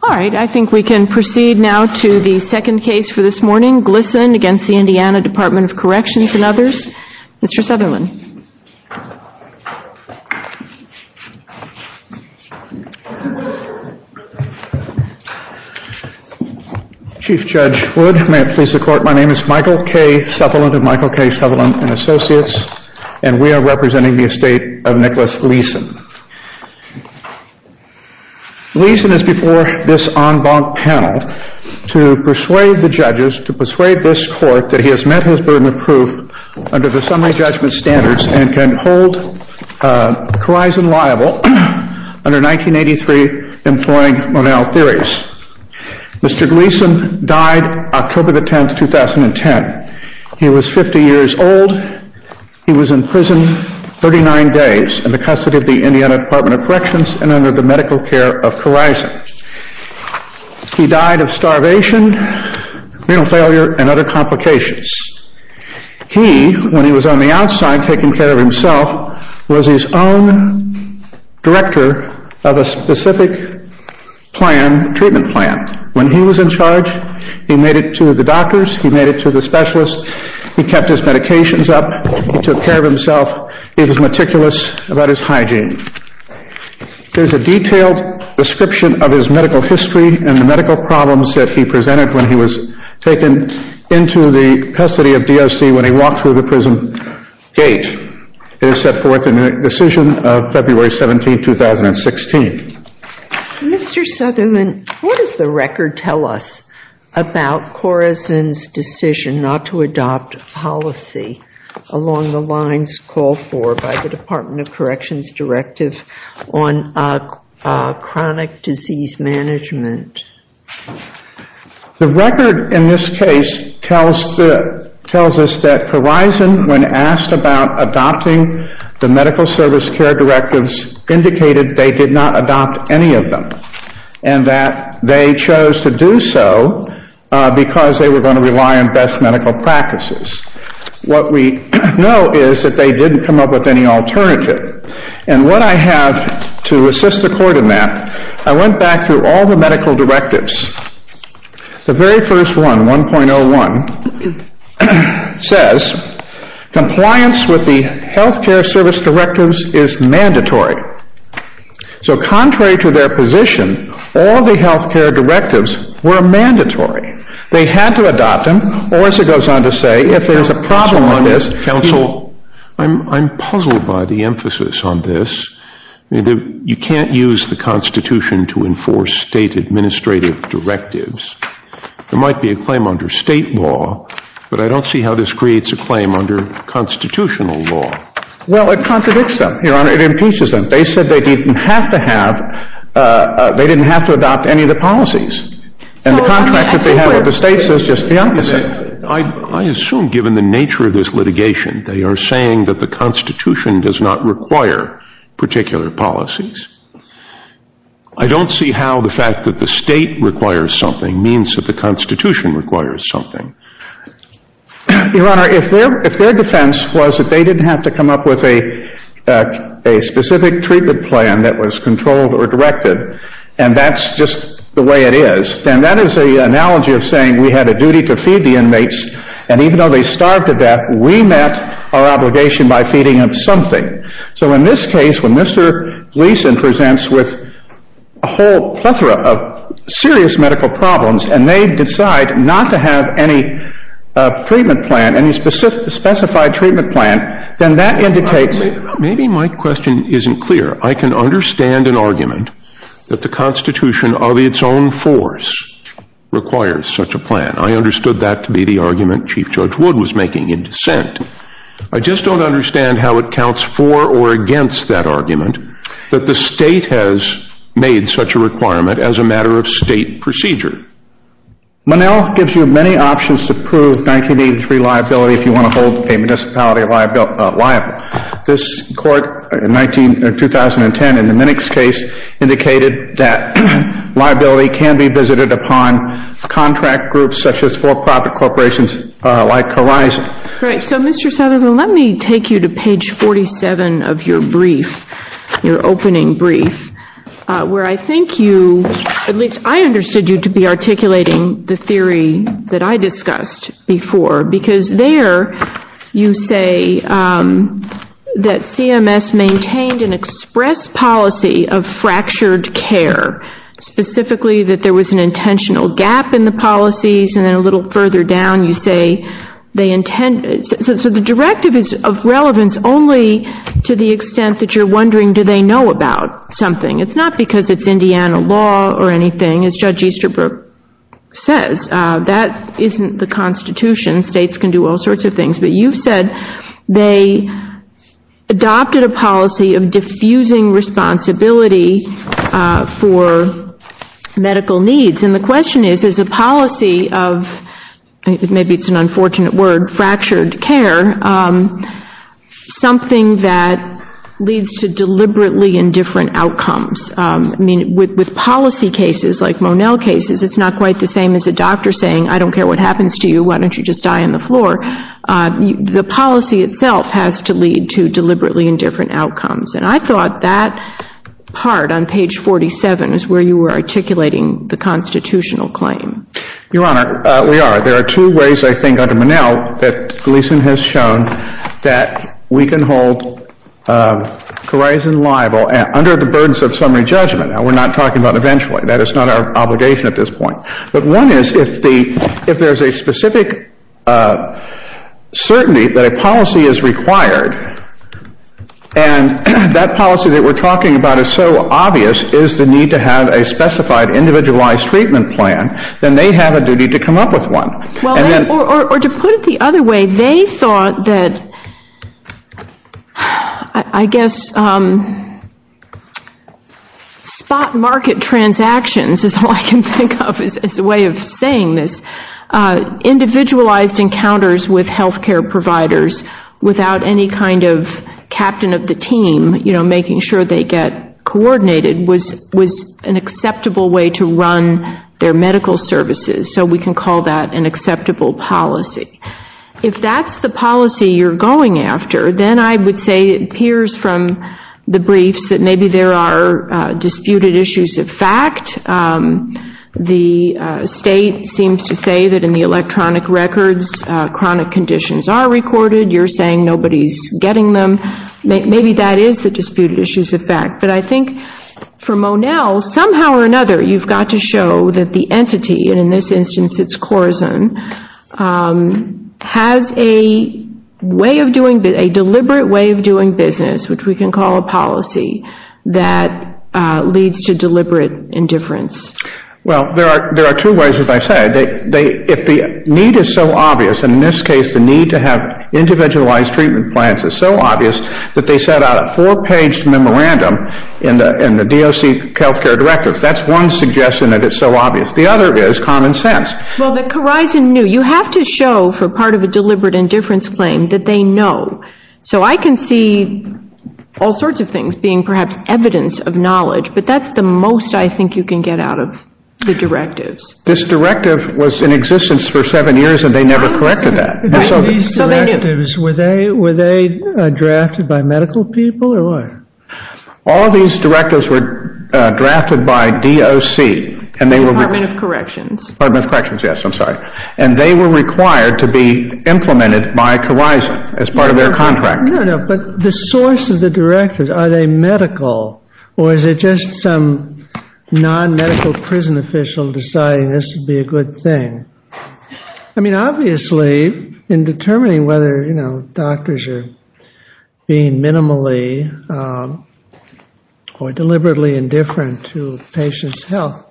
All right, I think we can proceed now to the second case for this morning, Glisson against the Indiana Department of Corrections and others. Mr. Sutherland. Chief Judge Wood, may it please the Court, my name is Michael K. Sutherland of Michael K. Sutherland & Associates, and we are representing the estate of Nicholas Gleason. Gleason is before this en banc panel to persuade the judges, to persuade this Court, that he has met his burden of proof under the summary judgment standards and can hold Corizon liable under 1983 employing Monell theories. Mr. Gleason died October 10, 2010. He was 50 years old. He was in prison 39 days in the custody of the Indiana Department of Corrections and under the medical care of Corizon. He died of starvation, renal failure, and other complications. He, when he was on the outside taking care of himself, was his own director of a specific plan, treatment plan. When he was in charge, he made it to the doctors, he made it to the patients up, he took care of himself, he was meticulous about his hygiene. There is a detailed description of his medical history and the medical problems that he presented when he was taken into the custody of DOC when he walked through the prison gate. It is set forth in the decision of February 17, 2016. Mr. Sutherland, what does the record tell us about Corizon's decision not to adopt a policy along the lines called for by the Department of Corrections directive on chronic disease management? The record in this case tells us that Corizon, when asked about adopting the medical service care directives, indicated they did not adopt any of them and that they chose to do so because they were going to rely on best medical practices. What we know is that they didn't come up with any alternative. What I have to assist the court in that, I went back through all the medical directives. The very first one, 1.01, says compliance with the health care service directives is mandatory. So contrary to their position, all the health care directives were mandatory. They had to adopt them or, as it goes on to say, if there is a problem on this, counsel... I'm puzzled by the emphasis on this. You can't use the Constitution to enforce state administrative directives. There might be a claim under state law, but I don't see how this creates a claim under constitutional law. Well, it contradicts them, Your Honor. It impeaches them. They said they didn't have to have, they didn't have to adopt any of the policies. And the contract that they have with the states is just the opposite. I assume, given the nature of this litigation, they are saying that the Constitution does not require particular policies. I don't see how the fact that the state requires something means that the Constitution requires something. Your Honor, if their defense was that they didn't have to come up with a specific treatment plan that was controlled or directed, and that's just the way it is, then that is an analogy of saying we had a duty to feed the inmates, and even though they starved to death, we met our obligation by feeding them something. So in this case, when Mr. Gleason presents with a whole plethora of serious medical problems, and they decide not to have any treatment plan, any specified treatment plan, then that indicates... Maybe my question isn't clear. I can understand an argument that the Constitution of its own force requires such a plan. I understood that to be the argument Chief Judge Wood was making in dissent. I just don't understand how it counts for or against that argument that the state has made such a requirement as a matter of state procedure. Monell gives you many options to prove 1983 liability if you want to hold a municipality liable. This court in 2010 in the Minnick's case indicated that liability can be visited upon contract groups such as for-profit corporations like Horizon. Right. So Mr. Southerland, let me take you to page 47 of your brief, your opening brief, where I think you, at least I understood you to be articulating the theory that I discussed before, because there you say that CMS maintained an express policy of fractured care, specifically that there was an intentional gap in the policies, and then a little further down you say they intended... So the directive is of relevance only to the extent that you're wondering do they know about something. It's not because it's Indiana law or anything, as Judge Easterbrook says. That isn't the Constitution. States can do all sorts of things. But you've said they adopted a policy of diffusing responsibility for medical needs. And the question is, is a policy of, maybe it's an unfortunate word, fractured care, something that leads to deliberately indifferent outcomes. I mean, with policy cases like Monell cases, it's not quite the same as a doctor saying, I don't care what happens to you, why don't you just die on the floor. The policy itself has to lead to deliberately indifferent outcomes. And I thought that part on page 47 is where you were articulating the constitutional claim. Your Honor, we are. There are two ways, I think, under Monell that Gleason has shown that we can hold Coriazen liable under the burdens of summary judgment. Now, we're not talking about eventually. That is not our obligation at this point. But one is, if there's a specific certainty that a policy is required, and that policy that we're talking about is so obvious, is the need to have a specified individualized treatment plan, then they have a duty to come up with one. Well, or to put it the other way, they thought that, I guess, spot market transactions is all I can think of as a way of saying this. Individualized encounters with healthcare providers without any kind of captain of the team, you know, making sure they get coordinated was an acceptable way to run their medical services. So we can call that an acceptable policy. If that's the policy you're going after, then I would say it appears from the briefs that maybe there are disputed issues of fact. The state seems to say that in the electronic records chronic conditions are recorded. You're saying nobody's getting them. Maybe that is a disputed issues of fact. But I think for Monell, somehow or another, you've got to show that the entity, and in this instance it's Corazon, has a way of doing, a deliberate way of doing business, which we can call a policy, that leads to deliberate indifference. Well, there are two ways, as I said. If the need is so obvious, and in this case the need to have individualized treatment plans is so obvious, that they set out a four-paged memorandum in the DOC healthcare directives. That's one suggestion that it's so obvious. The other is common sense. Well, the Corazon knew. You have to show for part of a deliberate indifference claim that they know. So I can see all sorts of things being perhaps evidence of knowledge, but that's the most I think you can get out of the directives. This directive was in existence for seven years and they never corrected that. So they knew. Were they drafted by medical people or what? All of these directives were drafted by DOC, Department of Corrections, and they were required to be implemented by Corazon as part of their contract. But the source of the directives, are they medical or is it just some non-medical prison official deciding this would be a good thing? I mean, obviously, in determining whether doctors are being minimally or deliberately indifferent to patients' health,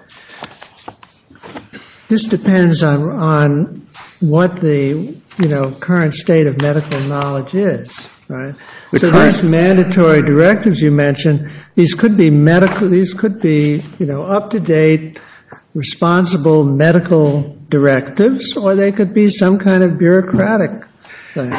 this depends on what the current state of medical knowledge is, right? So these mandatory directives you mentioned, these could be medical, these could be up-to-date responsible medical directives, or they could be some kind of bureaucratic thing.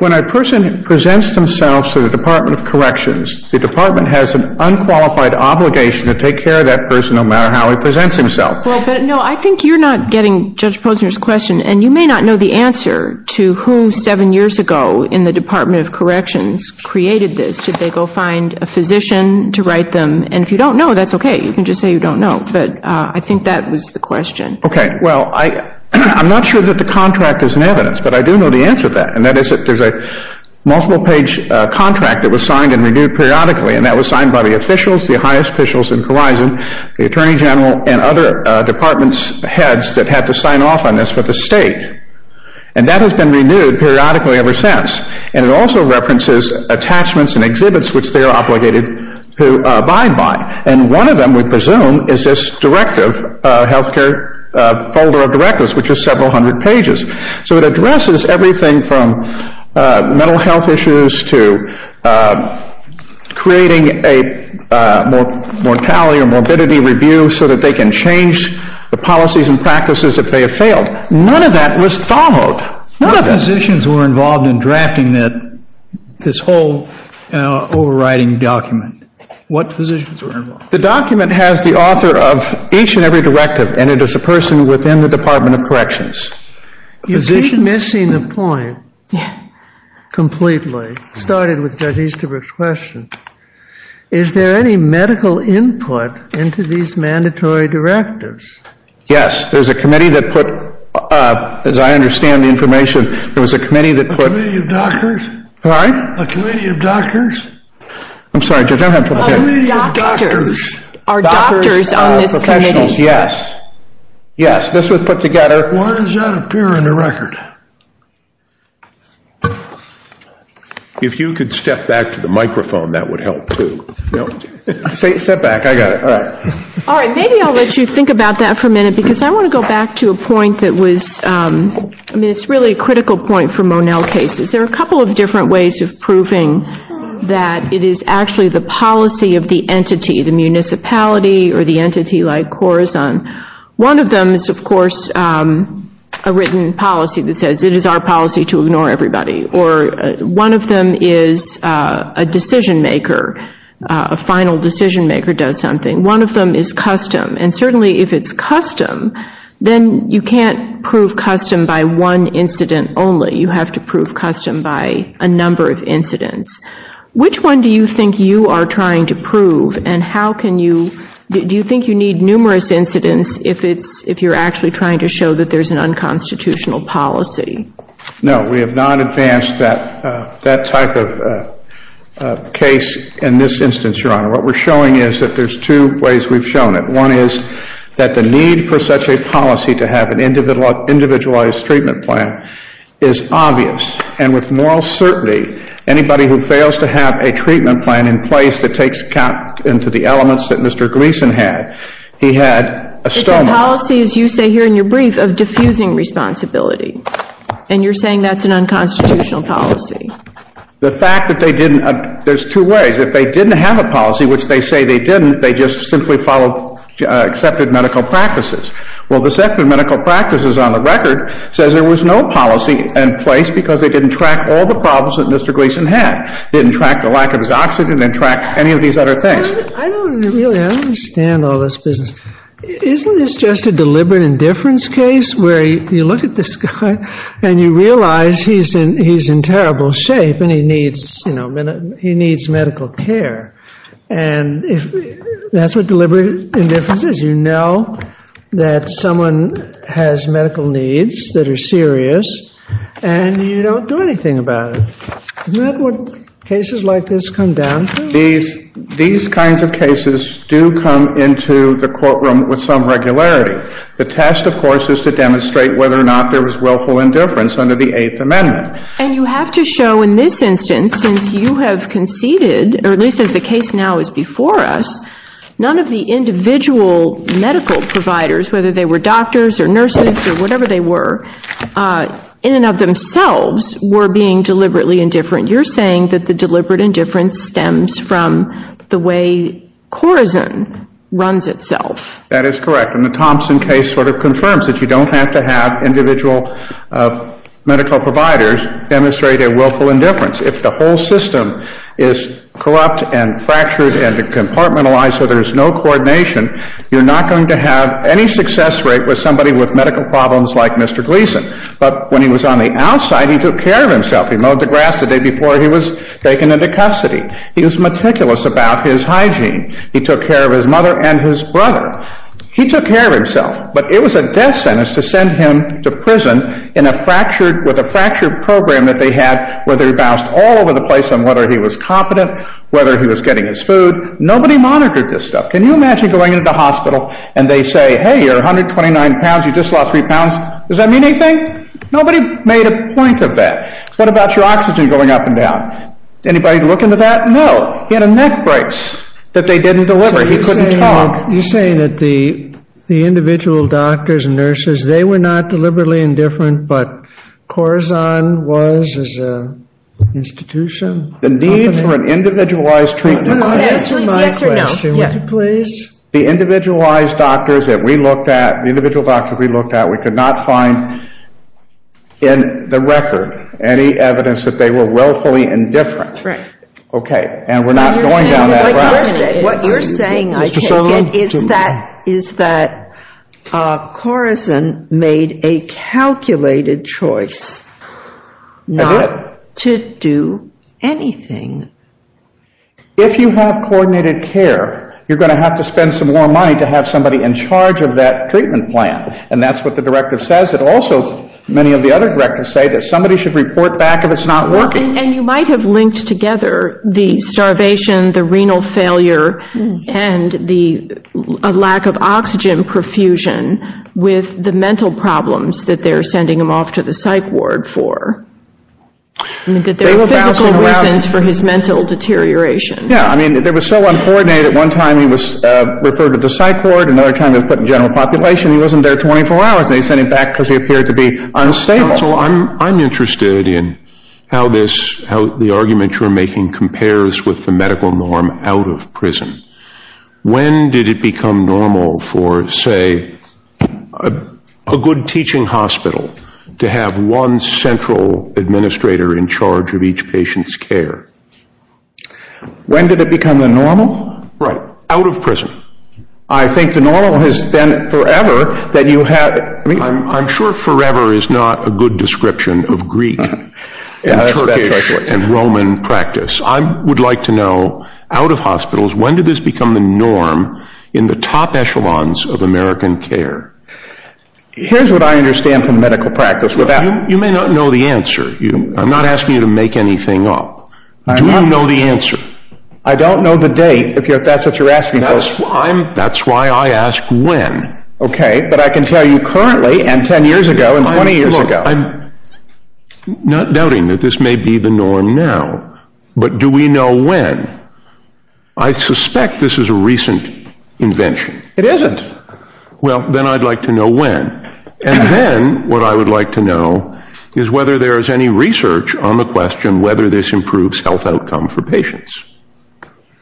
When a person presents themselves to the Department of Corrections, the department has an unqualified obligation to take care of that person no matter how he presents himself. Well, but no, I think you're not getting Judge Posner's question, and you may not know the answer to who seven years ago in the Department of Corrections created this. Did they go find a physician to write them? And if you don't know, that's okay, you can just say you don't know. But I think that was the question. Okay, well, I'm not sure that the contract is in evidence, but I do know the answer to that, and that is that there's a multiple-page contract that was signed and renewed periodically, and that was signed by the officials, the highest officials in Khorizon, the Attorney General, and other departments' heads that had to sign off on this for the state. And that has been renewed periodically ever since, and it also references attachments and exhibits which they are obligated to abide by. And one of them, we presume, is this directive, health care folder of directives, which is several hundred pages. So it addresses everything from mental health issues to creating a mortality or morbidity review so that they can change the policies and practices if they have failed. None of that was followed. None of it. What physicians were involved in drafting this whole overriding document? What physicians were involved? The document has the author of each and every directive, and it is a person within the Department of Corrections. You keep missing the point completely, started with Judge Easterbrook's question. Is there any medical input into these mandatory directives? Yes. There's a committee that put, as I understand the information, there was a committee that put... A committee of doctors? Sorry? A committee of doctors? I'm sorry, Judge, I don't have... A committee of doctors. Doctors. Doctors. Are doctors on this committee? Professionals. Yes. Yes. This was put together... Why does that appear in the record? If you could step back to the microphone, that would help too. Step back. I got it. All right. All right. Maybe I'll let you think about that for a minute because I want to go back to a point that was... I mean, it's really a critical point for Monell cases. There are a couple of different ways of proving that it is actually the policy of the entity, the municipality or the entity like Corazon. One of them is, of course, a written policy that says, it is our policy to ignore everybody, or one of them is a decision maker, a final decision maker does something. One of them is custom, and certainly if it's custom, then you can't prove custom by one incident only. You have to prove custom by a number of incidents. Which one do you think you are trying to prove, and how can you... Do you think you need numerous incidents if you're actually trying to show that there's an unconstitutional policy? No, we have not advanced that type of case in this instance, Your Honor. What we're showing is that there's two ways we've shown it. One is that the need for such a policy to have an individualized treatment plan is obvious, and with moral certainty, anybody who fails to have a treatment plan in place that takes account into the elements that Mr. Gleason had, he had a stomach... It's a policy, as you say here in your brief, of diffusing responsibility, and you're saying that's an unconstitutional policy. The fact that they didn't... There's two ways. If they didn't have a policy, which they say they didn't, they just simply followed accepted medical practices. Well, the accepted medical practices on the record says there was no policy in place because they didn't track all the problems that Mr. Gleason had, didn't track the lack of his oxygen, didn't track any of these other things. I don't really understand all this business. Isn't this just a deliberate indifference case where you look at this guy and you realize he's in terrible shape and he needs medical care, and that's what deliberate indifference is. You know that someone has medical needs that are serious, and you don't do anything about it. Isn't that what cases like this come down to? These kinds of cases do come into the courtroom with some regularity. The test, of course, is to demonstrate whether or not there was willful indifference under the Eighth Amendment. And you have to show in this instance, since you have conceded, or at least as the case now is before us, none of the individual medical providers, whether they were doctors or nurses or whatever they were, in and of themselves were being deliberately indifferent. You're saying that the deliberate indifference stems from the way Corazon runs itself. That is correct. And the Thompson case sort of confirms that you don't have to have individual medical providers demonstrate their willful indifference. If the whole system is corrupt and fractured and compartmentalized so there's no coordination, you're not going to have any success rate with somebody with medical problems like Mr. Gleason. But when he was on the outside, he took care of himself. He mowed the grass the day before he was taken into custody. He was meticulous about his hygiene. He took care of his mother and his brother. He took care of himself. But it was a death sentence to send him to prison with a fractured program that they had where they bounced all over the place on whether he was competent, whether he was getting his food. Nobody monitored this stuff. Can you imagine going into the hospital and they say, hey, you're 129 pounds, you just lost three pounds. Does that mean anything? Nobody made a point of that. What about your oxygen going up and down? Anybody look into that? No. He had a neck brace that they didn't deliver. He couldn't talk. You're saying that the individual doctors and nurses, they were not deliberately indifferent, but Corazon was as an institution? The need for an individualized treatment. Answer my question, would you please? The individualized doctors that we looked at, the individual doctors we looked at, we could not find in the record any evidence that they were willfully indifferent. Right. Okay. And we're not going down that route. What you're saying, I take it, is that Corazon made a calculated choice not to do anything. If you have coordinated care, you're going to have to spend some more money to have somebody in charge of that treatment plan. And that's what the directive says. It also, many of the other directives say that somebody should report back if it's not working. And you might have linked together the starvation, the renal failure, and the lack of oxygen perfusion with the mental problems that they're sending him off to the psych ward for. That there are physical reasons for his mental deterioration. Yeah, I mean, they were so uncoordinated. At one time he was referred to the psych ward, another time he was put in general population, he wasn't there 24 hours, and they sent him back because he appeared to be unstable. Counsel, I'm interested in how this, how the argument you're making compares with the medical norm out of prison. When did it become normal for, say, a good teaching hospital to have one central administrator in charge of each patient's care? When did it become the normal? Right. Out of prison. I think the normal has been forever that you have... I'm sure forever is not a good description of Greek and Turkish and Roman practice. I would like to know, out of hospitals, when did this become the norm in the top echelons of American care? Here's what I understand from medical practice without... You may not know the answer. I'm not asking you to make anything up. Do you know the answer? I don't know the date, if that's what you're asking. That's why I ask when. Okay, but I can tell you currently, and 10 years ago, and 20 years ago. Look, I'm not doubting that this may be the norm now, but do we know when? I suspect this is a recent invention. It isn't. Well, then I'd like to know when, and then what I would like to know is whether there is any research on the question whether this improves health outcome for patients.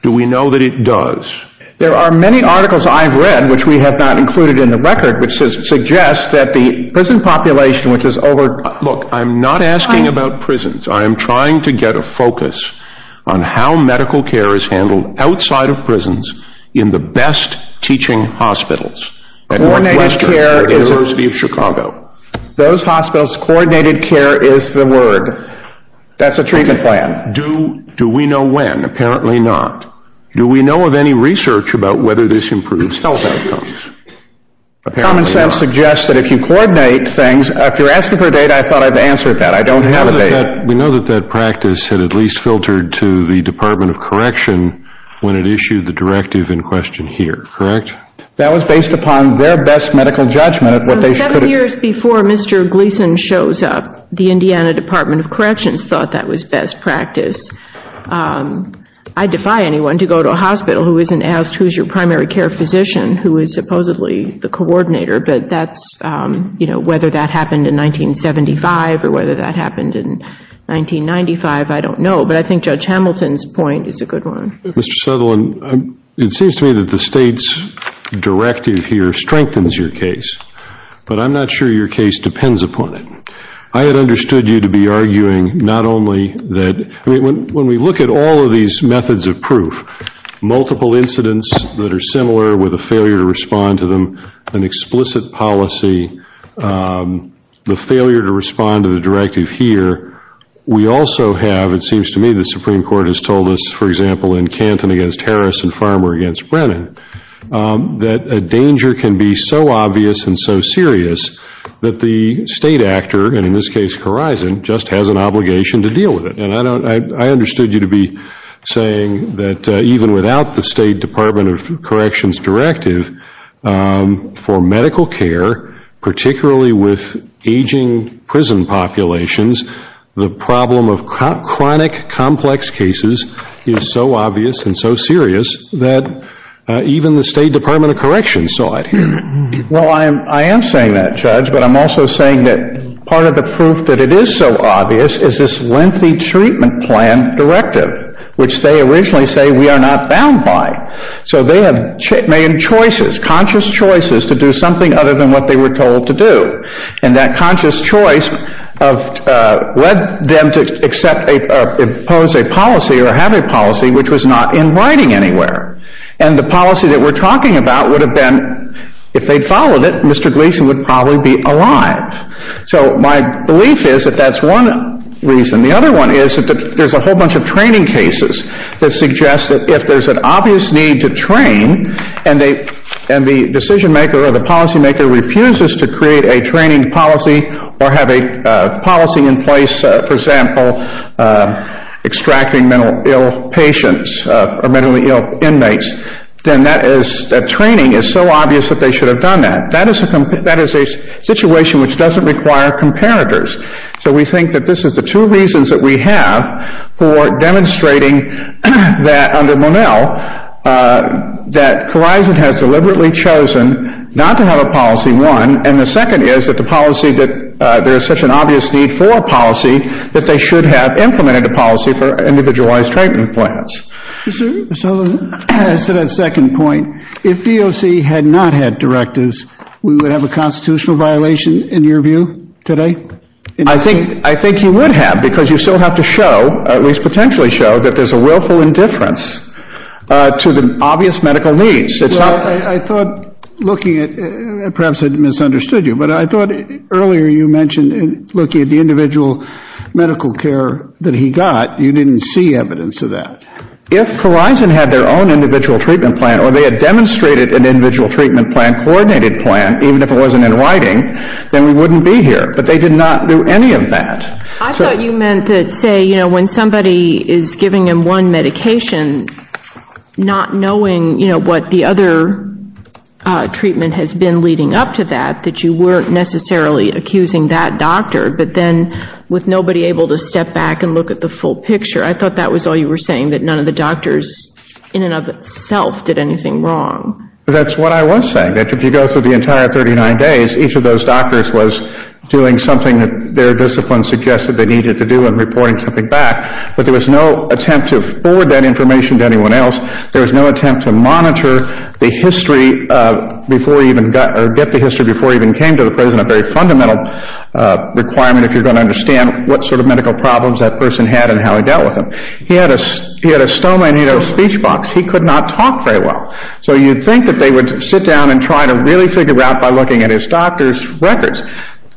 Do we know that it does? There are many articles I've read, which we have not included in the record, which suggests that the prison population, which is over... Look, I'm not asking about prisons. I am trying to get a focus on how medical care is handled outside of prisons in the best teaching hospitals. At Northwestern University of Chicago. Those hospitals, coordinated care is the word. That's a treatment plan. Do we know when? Apparently not. Do we know of any research about whether this improves health outcomes? Common sense suggests that if you coordinate things, if you're asking for data, I thought I've answered that. I don't have a data. We know that that practice had at least filtered to the Department of Correction when it issued the directive in question here, correct? That was based upon their best medical judgment of what they should... Seven years before Mr. Gleason shows up, the Indiana Department of Corrections thought that was best practice. I defy anyone to go to a hospital who isn't asked, who's your primary care physician, who is supposedly the coordinator, but whether that happened in 1975 or whether that happened in 1995, I don't know, but I think Judge Hamilton's point is a good one. Mr. Sutherland, it seems to me that the state's directive here strengthens your case, but I'm not sure your case depends upon it. I had understood you to be arguing not only that... When we look at all of these methods of proof, multiple incidents that are similar with a failure to respond to them, an explicit policy, the failure to respond to the directive here, we also have, it seems to me the Supreme Court has told us, for example, in Canton against Harris and Farmer against Brennan, that a danger can be so obvious and so serious that the state actor, and in this case Corison, just has an obligation to deal with it. I understood you to be saying that even without the State Department of Corrections' directive, for medical care, particularly with aging prison populations, the problem of chronic complex cases is so obvious and so serious that even the State Department of Corrections saw it here. Well, I am saying that, Judge, but I'm also saying that part of the proof that it is so obvious is this lengthy treatment plan directive, which they originally say we are not bound by. So they have made choices, conscious choices, to do something other than what they were told to do. And that conscious choice led them to impose a policy or have a policy which was not in writing anywhere. And the policy that we are talking about would have been, if they had followed it, Mr. Gleason would probably be alive. So my belief is that that is one reason. The other one is that there is a whole bunch of training cases that suggest that if there is an obvious need to train and the decision maker or the policy maker refuses to create a training policy or have a policy in place, for example, extracting mentally ill patients or mentally ill inmates, then that training is so obvious that they should have done that. That is a situation which doesn't require comparators. So we think that this is the two reasons that we have for demonstrating that under Monell that Corizon has deliberately chosen not to have a policy, one, and the second is that the policy that there is such an obvious need for a policy that they should have implemented a policy for individualized treatment plans. So to that second point, if DOC had not had directives, we would have a constitutional violation in your view today? I think you would have because you still have to show, at least potentially show, that there is a willful indifference to the obvious medical needs. Well, I thought looking at, perhaps I misunderstood you, but I thought earlier you mentioned looking at the individual medical care that he got, you didn't see evidence of that. If Corizon had their own individual treatment plan or they had demonstrated an individual treatment plan, coordinated plan, even if it wasn't in writing, then we wouldn't be here, but they did not do any of that. I thought you meant to say, you know, when somebody is giving him one medication, not knowing what the other treatment has been leading up to that, that you weren't necessarily accusing that doctor, but then with nobody able to step back and look at the full picture, I thought that was all you were saying, that none of the doctors, in and of itself, did anything wrong. That's what I was saying. If you go through the entire 39 days, each of those doctors was doing something that their discipline suggested they needed to do and reporting something back, but there was no attempt to forward that information to anyone else, there was no attempt to monitor the history before he even got, or get the history before he even came to the prison, a very fundamental requirement if you are going to understand what sort of medical problems that person had and how he dealt with them. He had a stoma and he had a speech box, he could not talk very well. So you would think that they would sit down and try to really figure it out by looking at his doctor's records,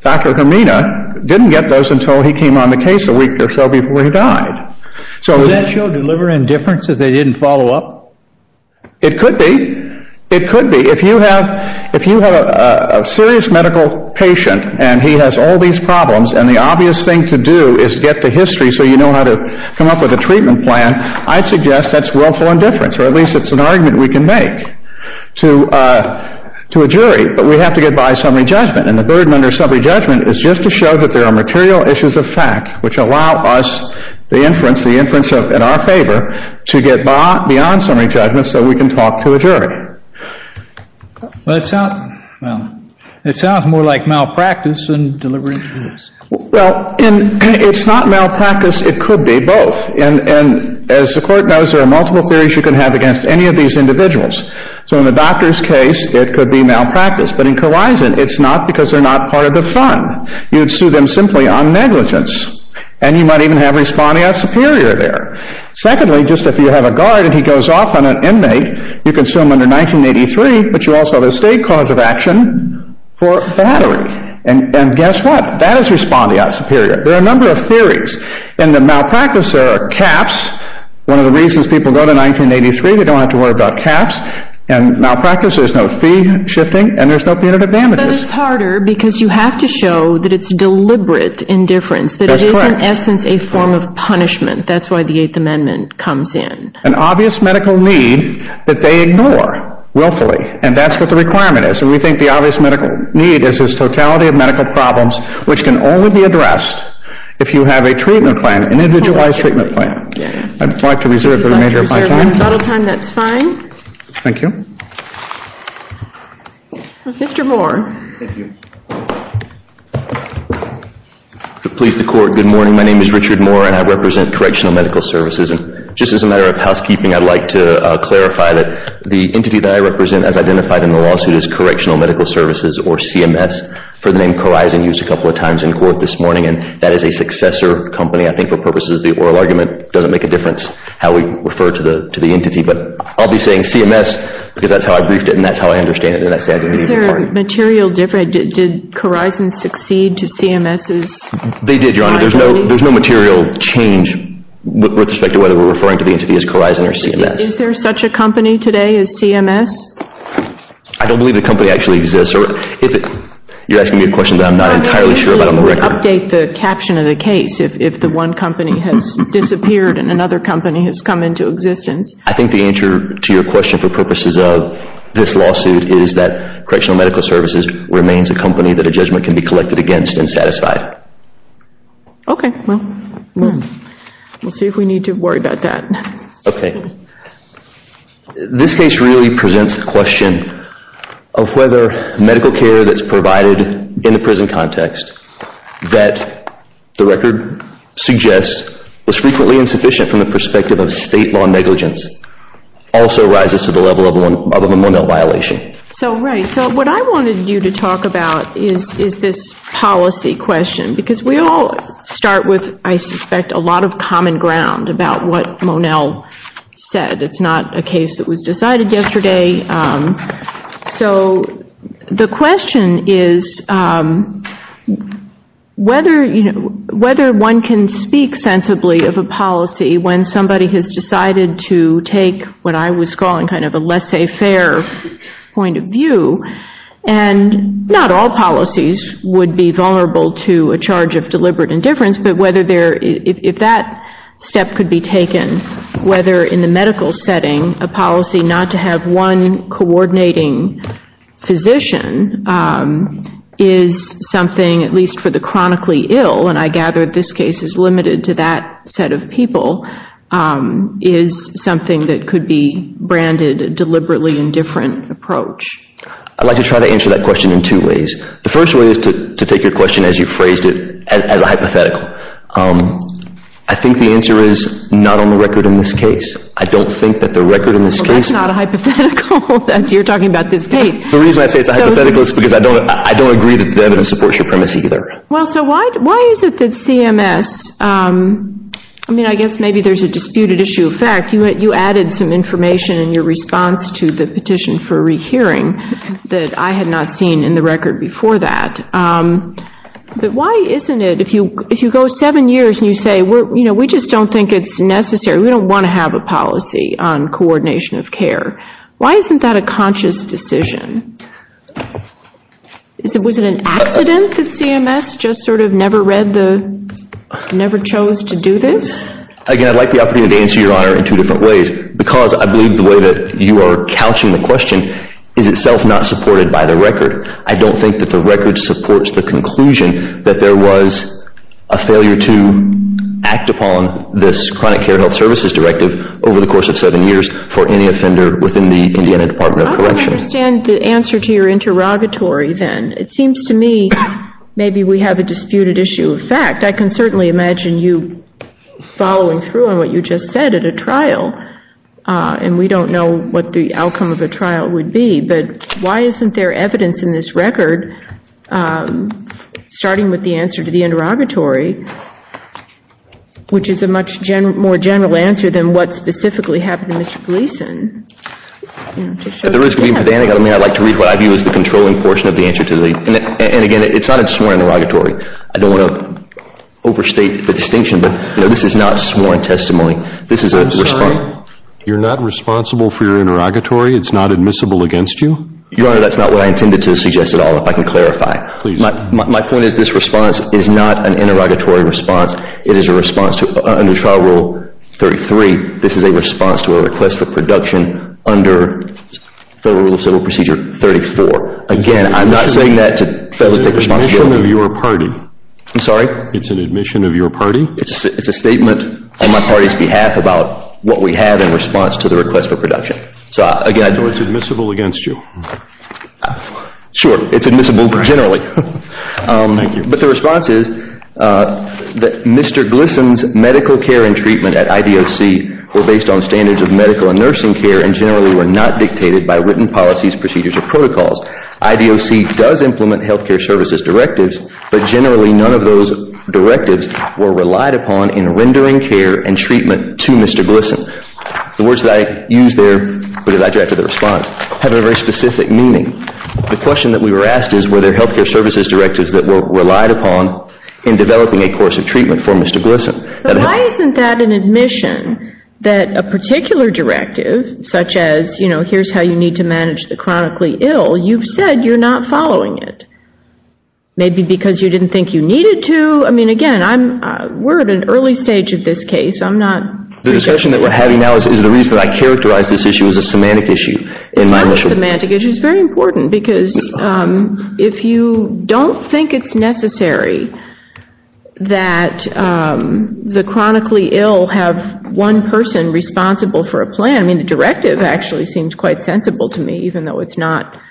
Dr. Germina didn't get those until he came on the case a week or so before he died. So does that show deliver in differences that they didn't follow up? It could be. It could be. If you have a serious medical patient and he has all these problems and the obvious thing to do is get the history so you know how to come up with a treatment plan, I'd suggest that's willful indifference, or at least it's an argument we can make to a jury, but we have to get by summary judgment and the burden under summary judgment is just to show that there are material issues of fact which allow us the inference, the inference in our favor to get beyond summary judgment so we can talk to a jury. Well, it sounds more like malpractice than deliver in differences. Well, it's not malpractice, it could be both. And as the court knows, there are multiple theories you can have against any of these individuals. So in the doctor's case, it could be malpractice. But in coercion, it's not because they're not part of the fund, you'd sue them simply on negligence. And you might even have respondeat superior there. Secondly, just if you have a guard and he goes off on an inmate, you can sue him under 1983, but you also have a state cause of action for battery. And guess what? That is respondeat superior. There are a number of theories. In the malpractice, there are caps. One of the reasons people go to 1983, they don't have to worry about caps. And malpractice, there's no fee shifting and there's no punitive damages. But it's harder because you have to show that it's deliberate indifference, that it is in essence a form of punishment. That's why the Eighth Amendment comes in. An obvious medical need that they ignore willfully. And that's what the requirement is. And we think the obvious medical need is this totality of medical problems which can only be addressed if you have a treatment plan, an individualized treatment plan. I'd like to reserve the remainder of my time. If you'd like to reserve a little time, that's fine. Thank you. Thank you. Mr. Moore. Thank you. Good morning. My name is Richard Moore and I represent Correctional Medical Services. Just as a matter of housekeeping, I'd like to clarify that the entity that I represent as identified in the lawsuit is Correctional Medical Services or CMS for the name Corizon used a couple of times in court this morning. And that is a successor company. I think for purposes of the oral argument, it doesn't make a difference how we refer to the entity. But I'll be saying CMS because that's how I briefed it and that's how I understand it. Is there a material difference? Did Corizon succeed to CMS? They did, Your Honor. There's no material change with respect to whether we're referring to the entity as Corizon or CMS. Is there such a company today as CMS? I don't believe the company actually exists. You're asking me a question that I'm not entirely sure about on the record. Update the caption of the case if the one company has disappeared and another company has come into existence. I think the answer to your question for purposes of this lawsuit is that Correctional Medical Services remains a company that a judgment can be collected against and satisfied. Okay. Well, we'll see if we need to worry about that. Okay. This case really presents the question of whether medical care that's provided in the prison context that the record suggests was frequently insufficient from the perspective of state law negligence also rises to the level of a Monell violation. Right. What I wanted you to talk about is this policy question because we all start with, I suspect, a lot of common ground about what Monell said. It's not a case that was decided yesterday. So the question is whether one can speak sensibly of a policy when somebody has decided to take what I was calling kind of a laissez-faire point of view and not all policies would be vulnerable to a charge of deliberate indifference, but if that step could be taken, whether in the medical setting a policy not to have one coordinating physician is something, at least for the chronically ill, and I gather this case is limited to that set of people, is something that could be branded deliberately indifferent approach. I'd like to try to answer that question in two ways. The first way is to take your question as you phrased it as a hypothetical. I think the answer is not on the record in this case. I don't think that the record in this case... Well, that's not a hypothetical. You're talking about this case. The reason I say it's a hypothetical is because I don't agree that the evidence supports your premise either. Well, so why is it that CMS, I mean, I guess maybe there's a disputed issue of fact. You added some information in your response to the petition for rehearing that I had not seen in the record before that. But why isn't it, if you go seven years and you say we just don't think it's necessary, we don't want to have a policy on coordination of care, why isn't that a conscious decision? Was it an accident that CMS just sort of never read the, never chose to do this? Again, I'd like the opportunity to answer your honor in two different ways, because I believe the way that you are couching the question is itself not supported by the record. I don't think that the record supports the conclusion that there was a failure to act upon this chronic care health services directive over the course of seven years for any offender within the Indiana Department of Corrections. I don't understand the answer to your interrogatory then. It seems to me maybe we have a disputed issue of fact. I can certainly imagine you following through on what you just said at a trial, and we don't know what the outcome of a trial would be. But why isn't there evidence in this record, starting with the answer to the interrogatory, which is a much more general answer than what specifically happened to Mr. Gleason? If there is, I'd like to read what I view as the controlling portion of the answer. And again, it's not a sworn interrogatory. I don't want to overstate the distinction, but this is not sworn testimony. You're not responsible for your interrogatory. It's not admissible against you? Your Honor, that's not what I intended to suggest at all, if I can clarify. Please. My point is this response is not an interrogatory response. It is a response to, under Trial Rule 33, this is a response to a request for production under Federal Rule of Civil Procedure 34. Again, I'm not saying that to federally take responsibility. It's an admission of your party. I'm sorry? It's an admission of your party. It's a statement on my party's behalf about what we have in response to the request for production. So it's admissible against you? Sure. It's admissible generally. Thank you. But the response is that Mr. Gleason's medical care and treatment at IDOC were based on standards of medical and nursing care and generally were not dictated by written policies, procedures, or protocols. IDOC does implement health care services directives, but generally none of those directives were relied upon in rendering care and treatment to Mr. Gleason. The words that I used there, when I directed the response, have a very specific meaning. The question that we were asked is were there health care services directives that were relied upon in developing a course of treatment for Mr. Gleason. But why isn't that an admission that a particular directive, such as, you know, here's how you need to manage the chronically ill, you've said you're not following it? Maybe because you didn't think you needed to? I mean, again, we're at an early stage of this case. The discussion that we're having now is the reason that I characterized this issue as a semantic issue. It's not a semantic issue. It's very important because if you don't think it's necessary that the chronically ill have one person responsible for a plan, I mean, the directive actually seems quite sensible to me, even though it's not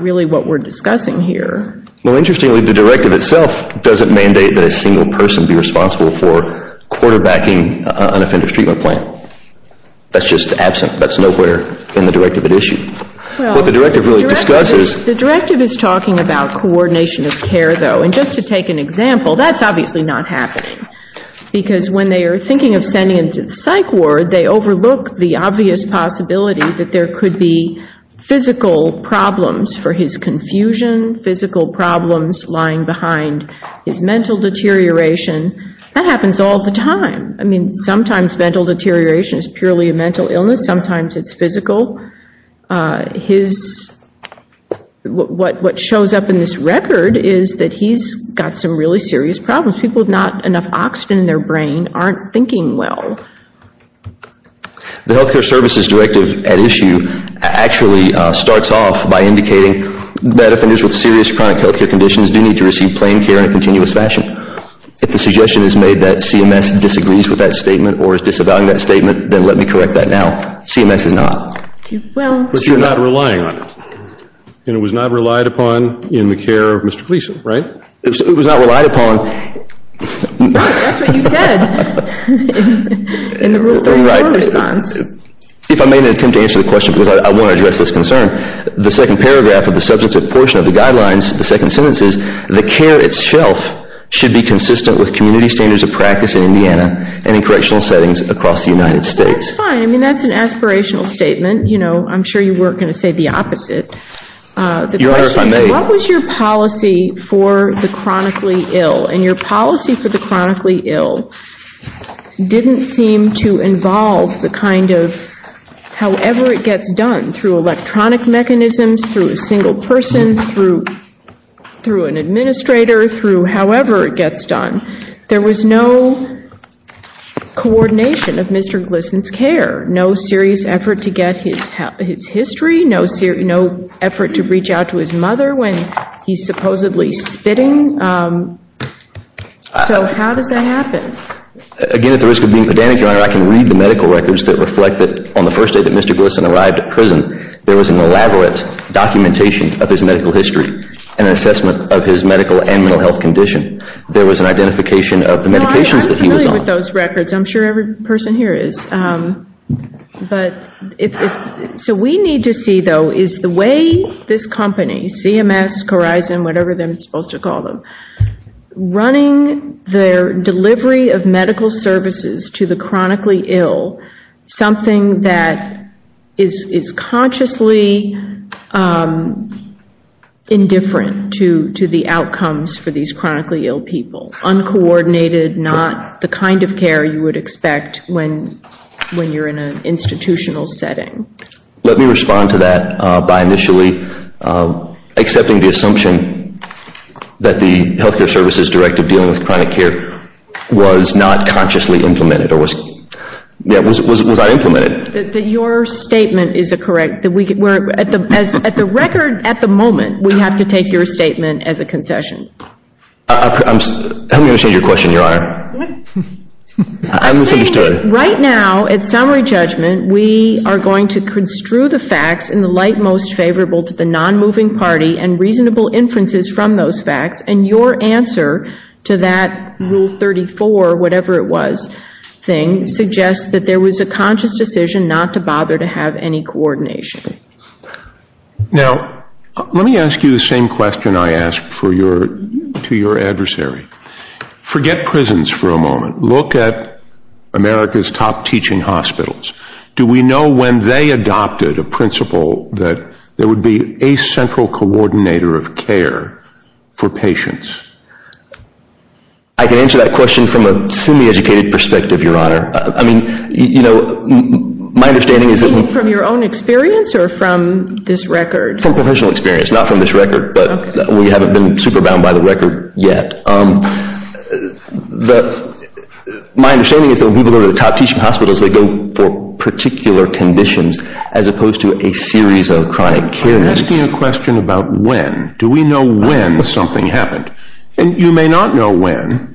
really what we're discussing here. Well, interestingly, the directive itself doesn't mandate that a single person be responsible for quarterbacking an offender's treatment plan. That's just absent. That's nowhere in the directive at issue. Well, the directive is talking about coordination of care, though. And just to take an example, that's obviously not happening because when they are thinking of sending him to the psych ward, they overlook the obvious possibility that there could be physical problems for his confusion, physical problems lying behind his mental deterioration. That happens all the time. I mean, sometimes mental deterioration is purely a mental illness. Sometimes it's physical. What shows up in this record is that he's got some really serious problems. People with not enough oxygen in their brain aren't thinking well. The health care services directive at issue actually starts off by indicating that offenders with serious chronic health care conditions do need to receive planed care in a continuous fashion. If the suggestion is made that CMS disagrees with that statement or is disavowing that statement, then let me correct that now. CMS is not. But you're not relying on it. And it was not relied upon in the care of Mr. Gleason, right? It was not relied upon. That's what you said in the Rule 3 core response. If I may attempt to answer the question because I want to address this concern, the second paragraph of the substantive portion of the guidelines, the second sentence is, the care itself should be consistent with community standards of practice in Indiana and in correctional settings across the United States. That's fine. I mean, that's an aspirational statement. You know, I'm sure you weren't going to say the opposite. What was your policy for the chronically ill? And your policy for the chronically ill didn't seem to involve the kind of however it gets done through electronic mechanisms, through a single person, through an administrator, through however it gets done. There was no coordination of Mr. Gleason's care, no serious effort to get his history, no effort to reach out to his mother when he's supposedly spitting. So how does that happen? Again, at the risk of being pedantic, Your Honor, I can read the medical records that reflect that on the first day that Mr. Gleason arrived at prison, there was an elaborate documentation of his medical history and an assessment of his medical and mental health condition. There was an identification of the medications that he was on. No, I'm familiar with those records. I'm sure every person here is. So we need to see, though, is the way this company, CMS, Corizon, whatever they're supposed to call them, running their delivery of medical services to the chronically ill something that is consciously indifferent to the outcomes for these chronically ill people. Uncoordinated, not the kind of care you would expect when you're in an institutional setting. Let me respond to that by initially accepting the assumption that the Health Care Services Directive dealing with chronic care was not consciously implemented or was not implemented. Your statement is correct. At the record, at the moment, we have to take your statement as a concession. I'm going to change your question, Your Honor. What? I misunderstood. I'm saying right now, at summary judgment, we are going to construe the facts in the light most favorable to the non-moving party and reasonable inferences from those facts, and your answer to that Rule 34, whatever it was, thing, suggests that there was a conscious decision not to bother to have any coordination. Now, let me ask you the same question I asked to your adversary. Forget prisons for a moment. Look at America's top teaching hospitals. Do we know when they adopted a principle that there would be a central coordinator of care for patients? I can answer that question from a semi-educated perspective, Your Honor. I mean, you know, my understanding is that From your own experience or from this record? From professional experience, not from this record, but we haven't been super bound by the record yet. My understanding is that when people go to the top teaching hospitals, they go for particular conditions as opposed to a series of chronic care needs. You're asking a question about when. Do we know when something happened? You may not know when.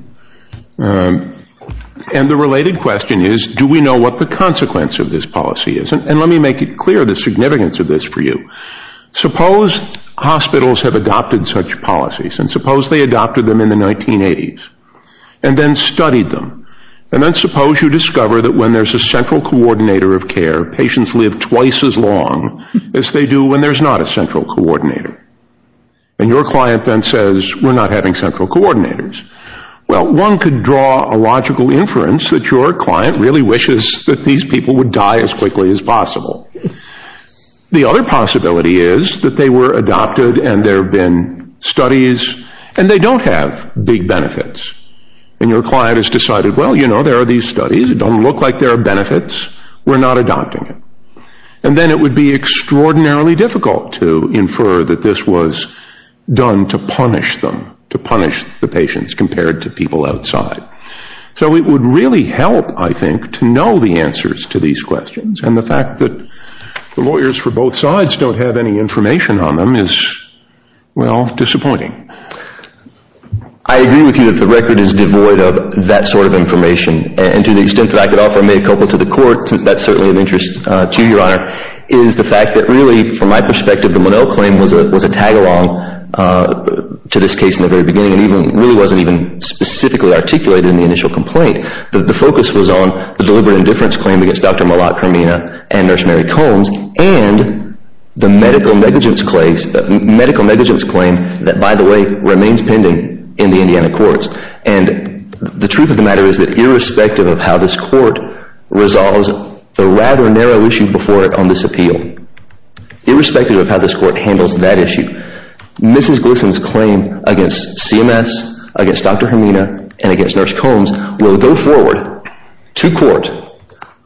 And the related question is, do we know what the consequence of this policy is? And let me make it clear the significance of this for you. Suppose hospitals have adopted such policies, and suppose they adopted them in the 1980s and then studied them. And then suppose you discover that when there's a central coordinator of care, patients live twice as long as they do when there's not a central coordinator. And your client then says, we're not having central coordinators. Well, one could draw a logical inference that your client really wishes that these people would die as quickly as possible. The other possibility is that they were adopted and there have been studies, and they don't have big benefits. And your client has decided, well, you know, there are these studies. It doesn't look like there are benefits. We're not adopting it. And then it would be extraordinarily difficult to infer that this was done to punish them, to punish the patients compared to people outside. So it would really help, I think, to know the answers to these questions. And the fact that the lawyers for both sides don't have any information on them is, well, disappointing. I agree with you that the record is devoid of that sort of information. And to the extent that I could offer me a couple to the court, since that's certainly of interest to you, Your Honor, is the fact that really, from my perspective, the Monell claim was a tag-along to this case in the very beginning and really wasn't even specifically articulated in the initial complaint. The focus was on the deliberate indifference claim against Dr. Malak Kermina and Nurse Mary Combs and the medical negligence claim that, by the way, remains pending in the Indiana courts. And the truth of the matter is that irrespective of how this court resolves the rather narrow issue before it on this appeal, irrespective of how this court handles that issue, Mrs. Glisson's claim against CMS, against Dr. Kermina, and against Nurse Combs will go forward to court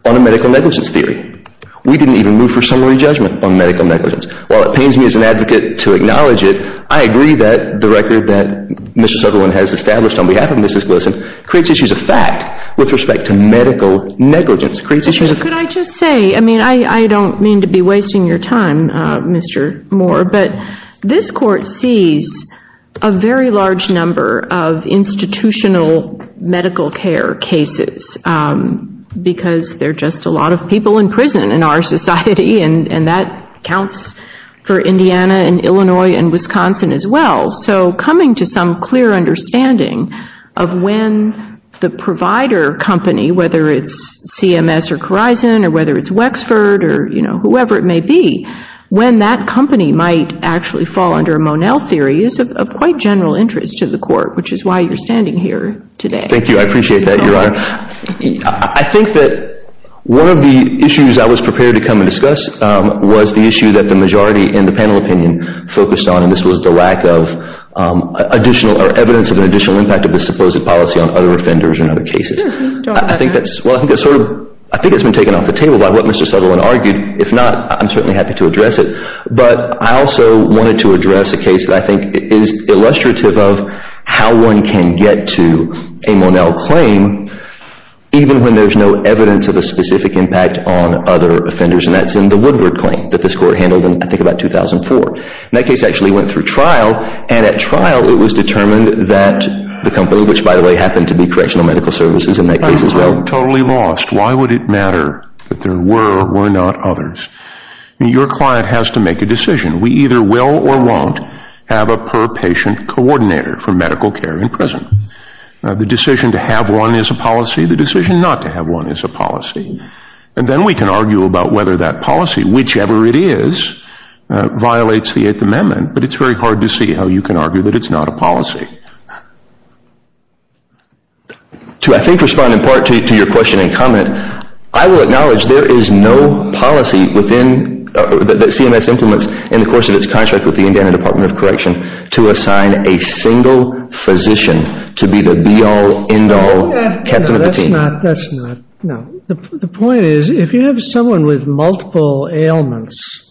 on a medical negligence theory. We didn't even move for summary judgment on medical negligence. While it pains me as an advocate to acknowledge it, I agree that the record that Mr. Sutherland has established on behalf of Mrs. Glisson creates issues of fact with respect to medical negligence. Could I just say, I mean, I don't mean to be wasting your time, Mr. Moore, but this court sees a very large number of institutional medical care cases because there are just a lot of people in prison in our society, and that counts for Indiana and Illinois and Wisconsin as well. So coming to some clear understanding of when the provider company, whether it's CMS or Corizon or whether it's Wexford or whoever it may be, when that company might actually fall under a Monell theory is of quite general interest to the court, which is why you're standing here today. Thank you. I appreciate that, Your Honor. I think that one of the issues I was prepared to come and discuss was the issue that the majority in the panel opinion focused on, and this was the lack of evidence of an additional impact of this supposed policy on other offenders and other cases. I think it's been taken off the table by what Mr. Sutherland argued. If not, I'm certainly happy to address it. But I also wanted to address a case that I think is illustrative of how one can get to a Monell claim even when there's no evidence of a specific impact on other offenders, and that's in the Woodward claim that this court handled in, I think, about 2004. That case actually went through trial, and at trial it was determined that the company, which, by the way, happened to be Correctional Medical Services in that case as well. I'm totally lost. Why would it matter that there were or were not others? Your client has to make a decision. We either will or won't have a per-patient coordinator for medical care in prison. The decision to have one is a policy. The decision not to have one is a policy. And then we can argue about whether that policy, whichever it is, violates the Eighth Amendment, but it's very hard to see how you can argue that it's not a policy. I will acknowledge there is no policy that CMS implements in the course of its contract with the Indiana Department of Correction to assign a single physician to be the be-all, end-all captain of the team. That's not, that's not, no. The point is, if you have someone with multiple ailments,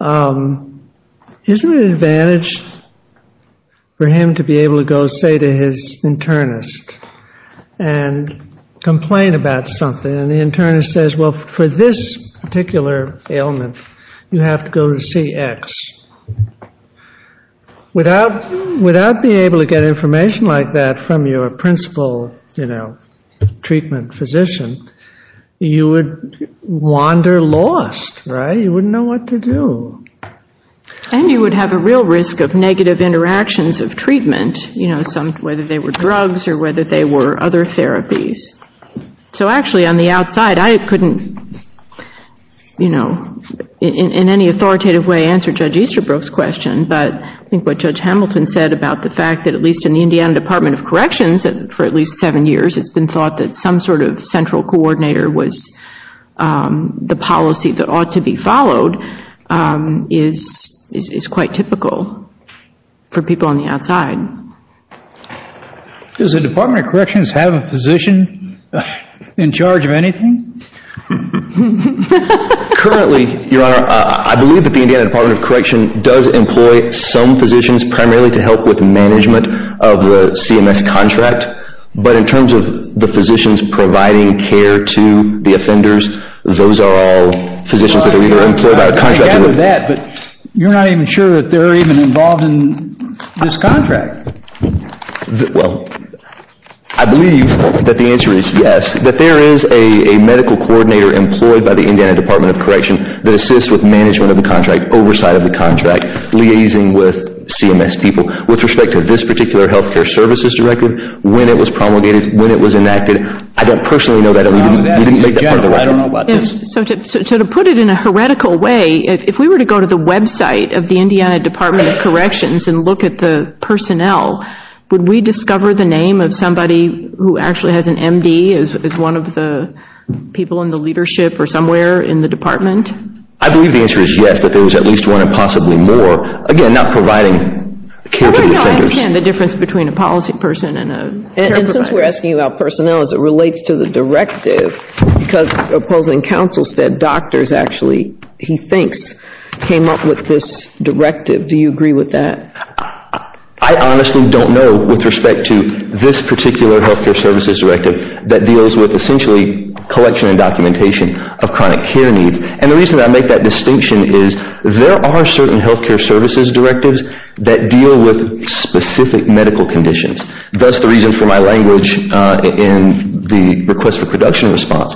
isn't it an advantage for him to be able to go, say, to his internist and complain about something, and the internist says, well, for this particular ailment, you have to go to CX. Without being able to get information like that from your principal, you know, treatment physician, you would wander lost, right? You wouldn't know what to do. And you would have a real risk of negative interactions of treatment, you know, whether they were drugs or whether they were other therapies. So actually, on the outside, I couldn't, you know, in any authoritative way answer Judge Easterbrook's question, but I think what Judge Hamilton said about the fact that at least in the Indiana Department of Corrections, for at least seven years, it's been thought that some sort of central coordinator was the policy that ought to be followed is quite typical for people on the outside. Does the Department of Corrections have a physician in charge of anything? Currently, Your Honor, I believe that the Indiana Department of Corrections does employ some physicians primarily to help with management of the CMS contract, but in terms of the physicians providing care to the offenders, those are all physicians that are either employed by a contractor or— I gather that, but you're not even sure that they're even involved in this contract. Well, I believe that the answer is yes, that there is a medical coordinator employed by the Indiana Department of Corrections that assists with management of the contract, oversight of the contract, liaising with CMS people. With respect to this particular health care services directive, when it was promulgated, when it was enacted, I don't personally know that. So to put it in a heretical way, if we were to go to the website of the Indiana Department of Corrections and look at the personnel, would we discover the name of somebody who actually has an M.D. as one of the people in the leadership or somewhere in the department? I believe the answer is yes, that there was at least one and possibly more, again, not providing care to the offenders. I understand the difference between a policy person and a care provider. And since we're asking about personnel, as it relates to the directive, because opposing counsel said doctors actually, he thinks, came up with this directive. Do you agree with that? I honestly don't know with respect to this particular health care services directive that deals with essentially collection and documentation of chronic care needs. And the reason I make that distinction is there are certain health care services directives that deal with specific medical conditions. That's the reason for my language in the request for production response.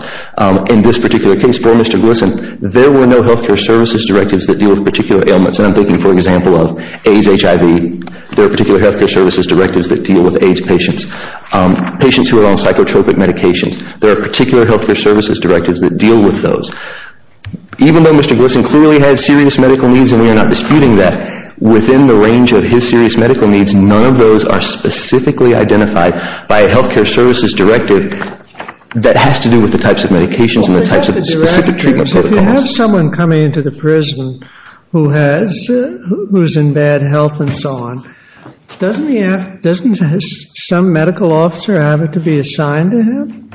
In this particular case for Mr. Gleason, there were no health care services directives that deal with particular ailments. And I'm thinking, for example, of AIDS, HIV. There are particular health care services directives that deal with AIDS patients, patients who are on psychotropic medications. There are particular health care services directives that deal with those. Even though Mr. Gleason clearly has serious medical needs and we are not disputing that, within the range of his serious medical needs, none of those are specifically identified by a health care services directive that has to do with the types of medications and the types of specific treatment protocols. If you have someone coming into the prison who's in bad health and so on, doesn't some medical officer have it to be assigned to him?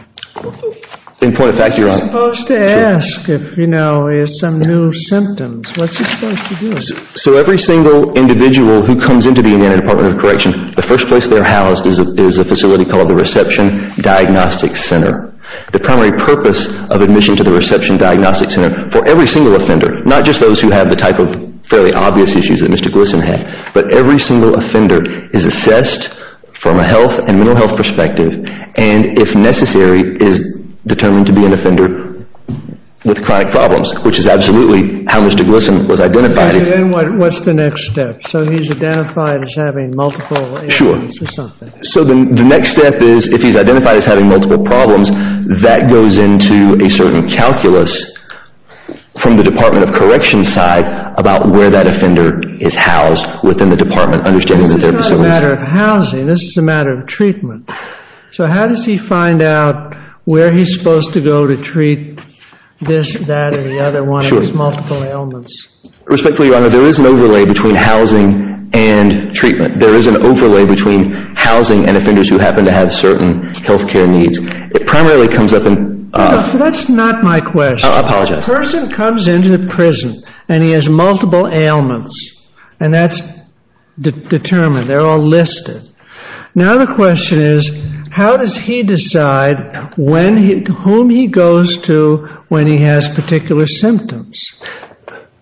In point of fact, you're right. He's supposed to ask if he has some new symptoms. What's he supposed to do? So every single individual who comes into the Indiana Department of Correction, the first place they're housed is a facility called the Reception Diagnostic Center. The primary purpose of admission to the Reception Diagnostic Center for every single offender, not just those who have the type of fairly obvious issues that Mr. Gleason had, but every single offender is assessed from a health and mental health perspective and, if necessary, is determined to be an offender with chronic problems, which is absolutely how Mr. Gleason was identified. So then what's the next step? So he's identified as having multiple ailments or something? Sure. So the next step is, if he's identified as having multiple problems, that goes into a certain calculus from the Department of Correction's side about where that offender is housed within the department, understanding that they're facilities. This is not a matter of housing. This is a matter of treatment. So how does he find out where he's supposed to go to treat this, that, or the other one? It's multiple ailments. Respectfully, Your Honor, there is an overlay between housing and treatment. There is an overlay between housing and offenders who happen to have certain health care needs. It primarily comes up in— That's not my question. I apologize. A person comes into the prison, and he has multiple ailments, and that's determined. They're all listed. Now the question is, how does he decide whom he goes to when he has particular symptoms?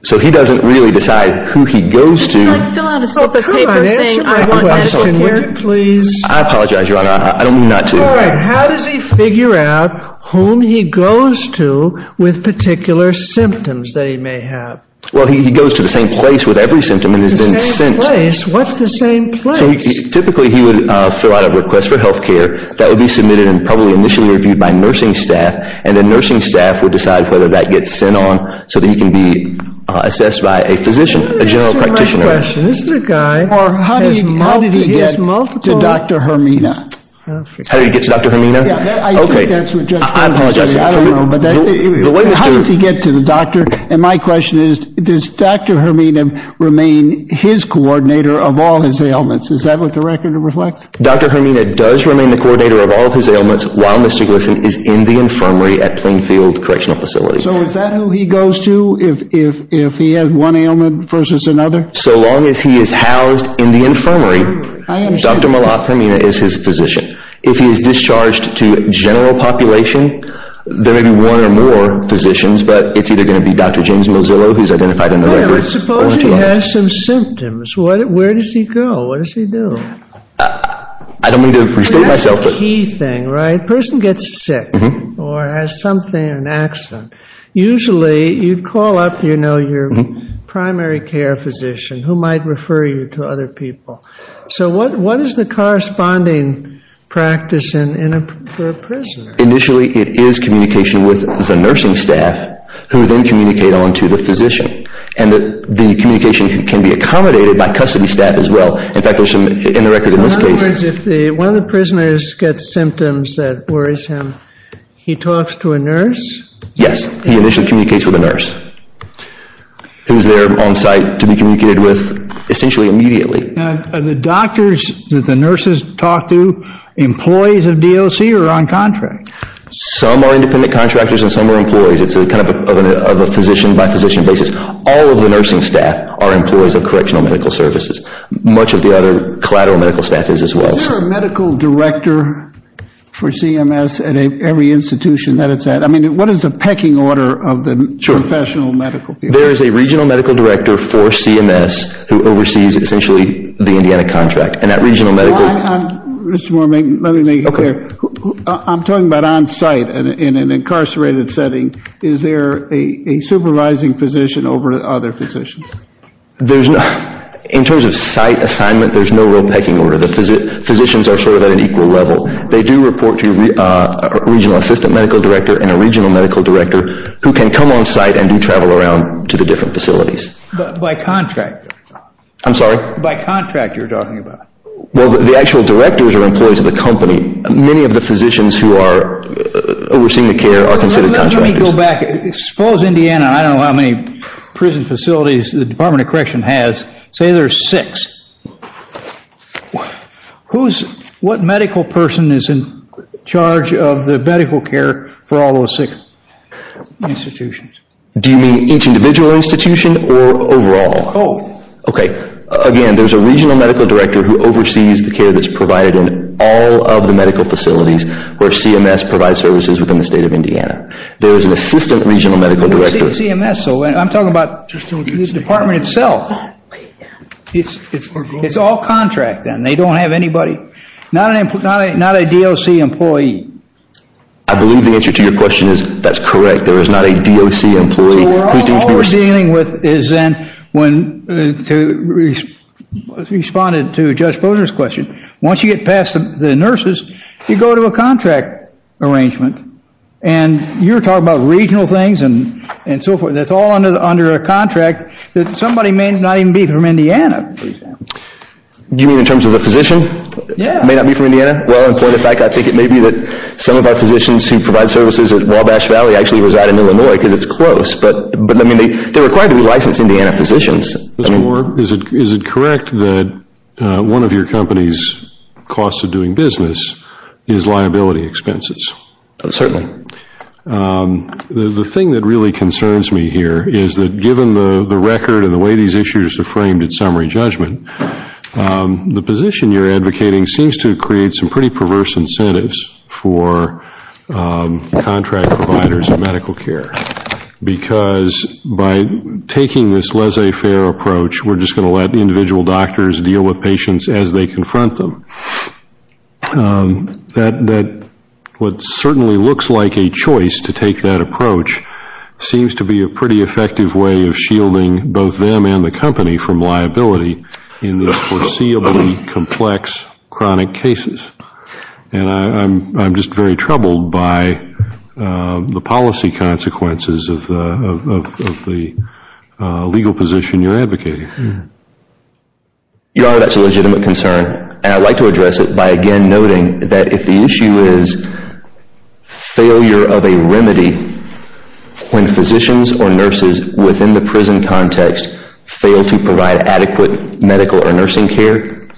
So he doesn't really decide who he goes to— Could you, like, fill out a slip of paper saying I want medical care? I apologize, Your Honor. I don't mean not to. All right. How does he figure out whom he goes to with particular symptoms that he may have? Well, he goes to the same place with every symptom, and he's been sent— The same place? What's the same place? So typically he would fill out a request for health care. That would be submitted and probably initially reviewed by nursing staff, and then nursing staff would decide whether that gets sent on so that he can be assessed by a physician, a general practitioner. That's not my question. This little guy has multiple— How did he get to Dr. Hermina? How did he get to Dr. Hermina? Yeah, I think that's what Justice Kennedy said. I apologize. I don't know. How does he get to the doctor? And my question is, does Dr. Hermina remain his coordinator of all his ailments? Is that what the record reflects? Dr. Hermina does remain the coordinator of all of his ailments while Mr. Gleason is in the infirmary at Plainfield Correctional Facility. So is that who he goes to if he has one ailment versus another? So long as he is housed in the infirmary, Dr. Malak Hermina is his physician. If he is discharged to general population, there may be one or more physicians, but it's either going to be Dr. James Mozilla, who's identified in the records, or two others. I suppose he has some symptoms. Where does he go? What does he do? I don't mean to restate myself, but— That's the key thing, right? A person gets sick or has something, an accident. Usually you'd call up your primary care physician who might refer you to other people. So what is the corresponding practice for a prisoner? Initially, it is communication with the nursing staff, who then communicate on to the physician. And the communication can be accommodated by custody staff as well. In fact, in the record in this case— In other words, if one of the prisoners gets symptoms that worries him, he talks to a nurse? Yes, he initially communicates with a nurse, who is there on site to be communicated with essentially immediately. Are the doctors that the nurses talk to employees of DOC or on contract? Some are independent contractors and some are employees. It's kind of a physician-by-physician basis. All of the nursing staff are employees of Correctional Medical Services. Much of the other collateral medical staff is as well. Is there a medical director for CMS at every institution that it's at? I mean, what is the pecking order of the professional medical people? There is a regional medical director for CMS who oversees essentially the Indiana contract. And that regional medical— Mr. Moore, let me make it clear. I'm talking about on site in an incarcerated setting. Is there a supervising physician over other physicians? In terms of site assignment, there's no real pecking order. The physicians are sort of at an equal level. They do report to a regional assistant medical director and a regional medical director, who can come on site and do travel around to the different facilities. By contract? I'm sorry? By contract you're talking about. Well, the actual directors are employees of the company. Many of the physicians who are overseeing the care are considered contractors. Let me go back. Suppose Indiana—I don't know how many prison facilities the Department of Correction has. Say there's six. What medical person is in charge of the medical care for all those six institutions? Do you mean each individual institution or overall? Both. Okay. Again, there's a regional medical director who oversees the care that's provided in all of the medical facilities where CMS provides services within the state of Indiana. There is an assistant regional medical director. I'm talking about the department itself. It's all contract then. They don't have anybody. Not a DOC employee. I believe the answer to your question is that's correct. There is not a DOC employee. All we're dealing with is then when—to respond to Judge Posner's question. Once you get past the nurses, you go to a contract arrangement. You're talking about regional things and so forth. That's all under a contract. Somebody may not even be from Indiana, for example. You mean in terms of a physician? Yeah. May not be from Indiana? Well, in point of fact, I think it may be that some of our physicians who provide services at Wabash Valley actually reside in Illinois because it's close. But, I mean, they're required to be licensed Indiana physicians. Mr. Moore, is it correct that one of your company's costs of doing business is liability expenses? Certainly. The thing that really concerns me here is that given the record and the way these issues are framed in summary judgment, the position you're advocating seems to create some pretty perverse incentives for contract providers of medical care because by taking this laissez-faire approach, we're just going to let individual doctors deal with patients as they confront them. That what certainly looks like a choice to take that approach seems to be a pretty effective way of shielding both them and the company from liability in the foreseeably complex chronic cases. And I'm just very troubled by the policy consequences of the legal position you're advocating. Your Honor, that's a legitimate concern. And I'd like to address it by again noting that if the issue is failure of a remedy when physicians or nurses within the prison context fail to provide adequate medical or nursing care,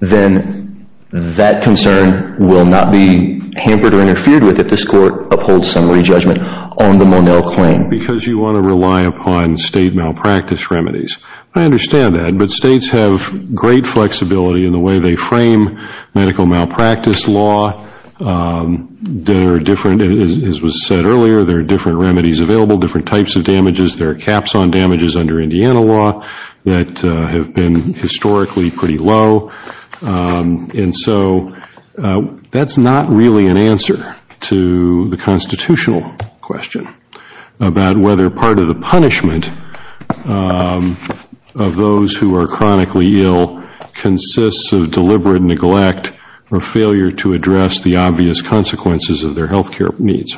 then that concern will not be hampered or interfered with if this court upholds summary judgment on the Monell claim. Because you want to rely upon state malpractice remedies. I understand that. But states have great flexibility in the way they frame medical malpractice law. There are different, as was said earlier, there are different remedies available, different types of damages. There are caps on damages under Indiana law that have been historically pretty low. And so that's not really an answer to the constitutional question about whether part of the punishment of those who are chronically ill consists of deliberate neglect or failure to address the obvious consequences of their health care needs.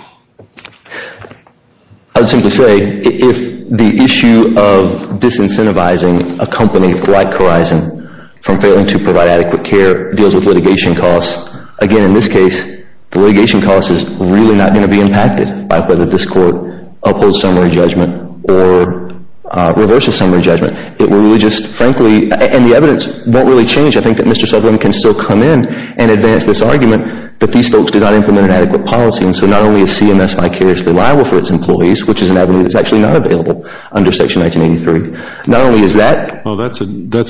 I would simply say if the issue of disincentivizing a company like Corizon from failing to provide adequate care deals with litigation costs, again in this case, the litigation cost is really not going to be impacted by whether this court upholds summary judgment or reverses summary judgment. It will really just frankly, and the evidence won't really change, I think that Mr. Sutherland can still come in and advance this argument that these folks did not implement an adequate policy. And so not only is CMS my care as the liable for its employees, which is an avenue that's actually not available under Section 1983. Not only is that. Well, that's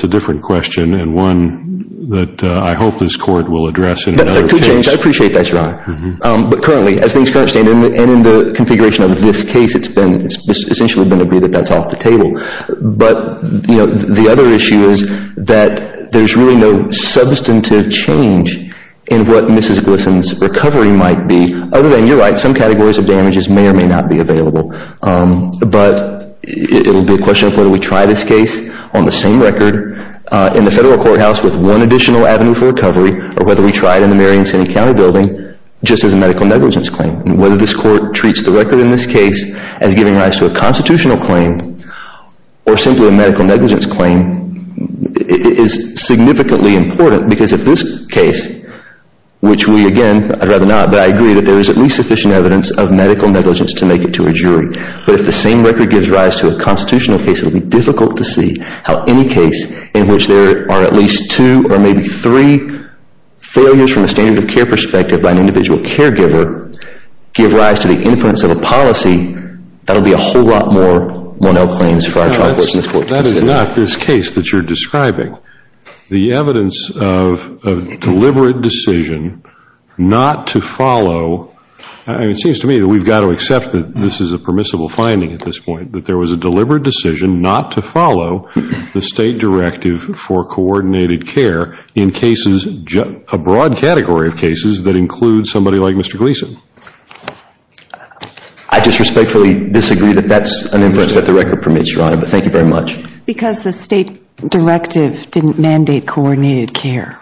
a different question and one that I hope this court will address in another case. I appreciate that, Your Honor. But currently, as things currently stand and in the configuration of this case, it's essentially been agreed that that's off the table. But the other issue is that there's really no substantive change in what Mrs. Glisson's recovery might be, other than, you're right, some categories of damages may or may not be available. But it will be a question of whether we try this case on the same record in the federal courthouse with one additional avenue for recovery or whether we try it in the Marion City County building just as a medical negligence claim. Whether this court treats the record in this case as giving rise to a constitutional claim or simply a medical negligence claim is significantly important because if this case, which we, again, I'd rather not, but I agree that there is at least sufficient evidence of medical negligence to make it to a jury. But if the same record gives rise to a constitutional case, it will be difficult to see how any case in which there are at least two or maybe three failures from a standard of care perspective by an individual caregiver give rise to the inference of a policy that will be a whole lot more Monell claims for our trial courts in this court. That is not this case that you're describing. The evidence of deliberate decision not to follow, it seems to me that we've got to accept that this is a permissible finding at this point, that there was a deliberate decision not to follow the state directive for coordinated care in cases, a broad category of cases that include somebody like Mr. Gleason. I disrespectfully disagree that that's an inference that the record permits, Your Honor, but thank you very much. Because the state directive didn't mandate coordinated care.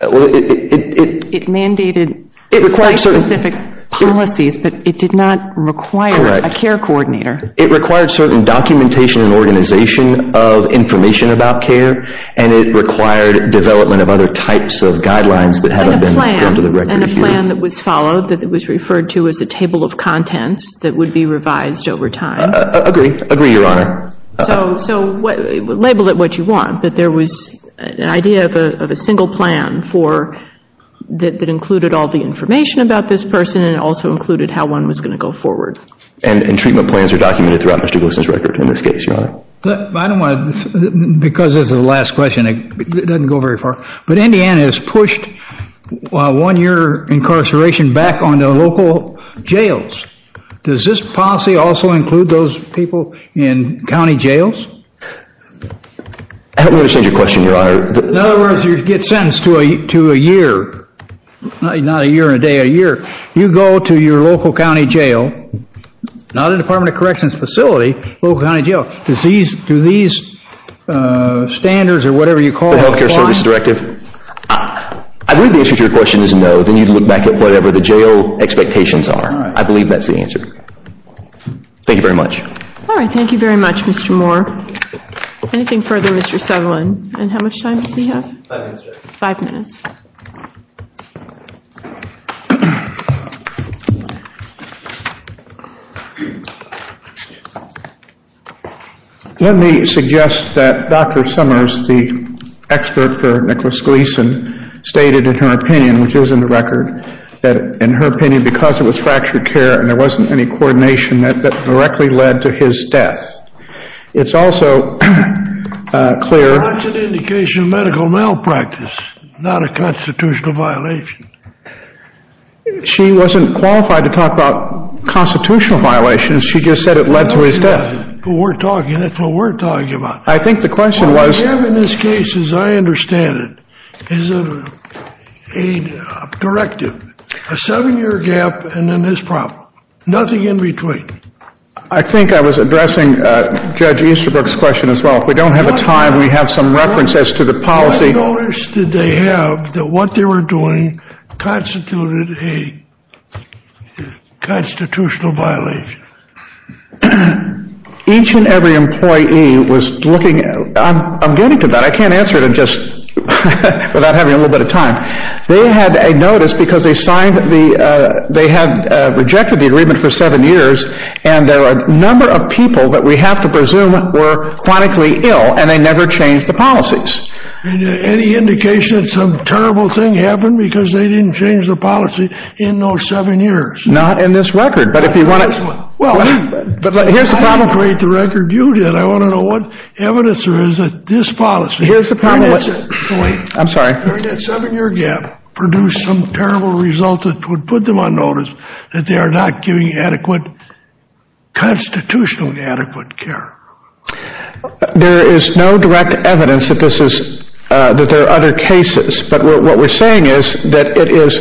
It mandated site-specific policies, but it did not require a care coordinator. Correct. It required certain documentation and organization of information about care, and it required development of other types of guidelines that haven't been given to the record. And a plan that was followed that was referred to as a table of contents that would be revised over time. Agree. Agree, Your Honor. So label it what you want, but there was an idea of a single plan that included all the information about this person and also included how one was going to go forward. And treatment plans are documented throughout Mr. Gleason's record in this case, Your Honor. I don't want to, because this is the last question, it doesn't go very far, but Indiana has pushed one-year incarceration back onto local jails. Does this policy also include those people in county jails? I don't understand your question, Your Honor. In other words, you get sentenced to a year, not a year and a day, a year. You go to your local county jail, not a Department of Corrections facility, local county jail. Do these standards or whatever you call them apply? The healthcare service directive? I believe the answer to your question is no. Then you'd look back at whatever the jail expectations are. I believe that's the answer. Thank you very much. All right, thank you very much, Mr. Moore. Anything further, Mr. Sutherland? And how much time does he have? Five minutes, Your Honor. Five minutes. Let me suggest that Dr. Summers, the expert for Nicholas Gleason, stated in her opinion, which is in the record, that in her opinion, because it was fractured care and there wasn't any coordination, that directly led to his death. It's also clear— That's an indication of medical malpractice, not a constitutional violation. She wasn't qualified to talk about constitutional violations. She just said it led to his death. That's what we're talking about. I think the question was— The gap in this case, as I understand it, is a directive. A seven-year gap and then this problem. Nothing in between. I think I was addressing Judge Easterbrook's question as well. If we don't have the time, we have some references to the policy. What notice did they have that what they were doing constituted a constitutional violation? Each and every employee was looking—I'm getting to that. I can't answer it without having a little bit of time. They had a notice because they had rejected the agreement for seven years and there were a number of people that we have to presume were chronically ill and they never changed the policies. Any indication that some terrible thing happened because they didn't change the policy in those seven years? Not in this record. I don't want to create the record you did. I want to know what evidence there is that this policy— Here's the problem. I'm sorry. During that seven-year gap produced some terrible result that would put them on notice that they are not giving adequate constitutional adequate care. There is no direct evidence that there are other cases. What we're saying is that it is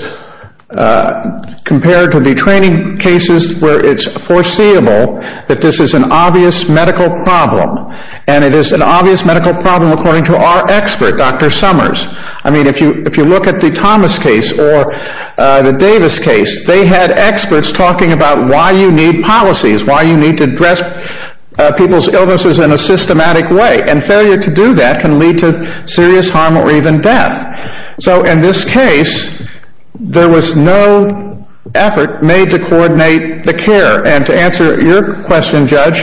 compared to the training cases where it's foreseeable that this is an obvious medical problem. It is an obvious medical problem according to our expert, Dr. Summers. If you look at the Thomas case or the Davis case, they had experts talking about why you need policies, why you need to address people's illnesses in a systematic way. Failure to do that can lead to serious harm or even death. In this case, there was no effort made to coordinate the care. To answer your question, Judge,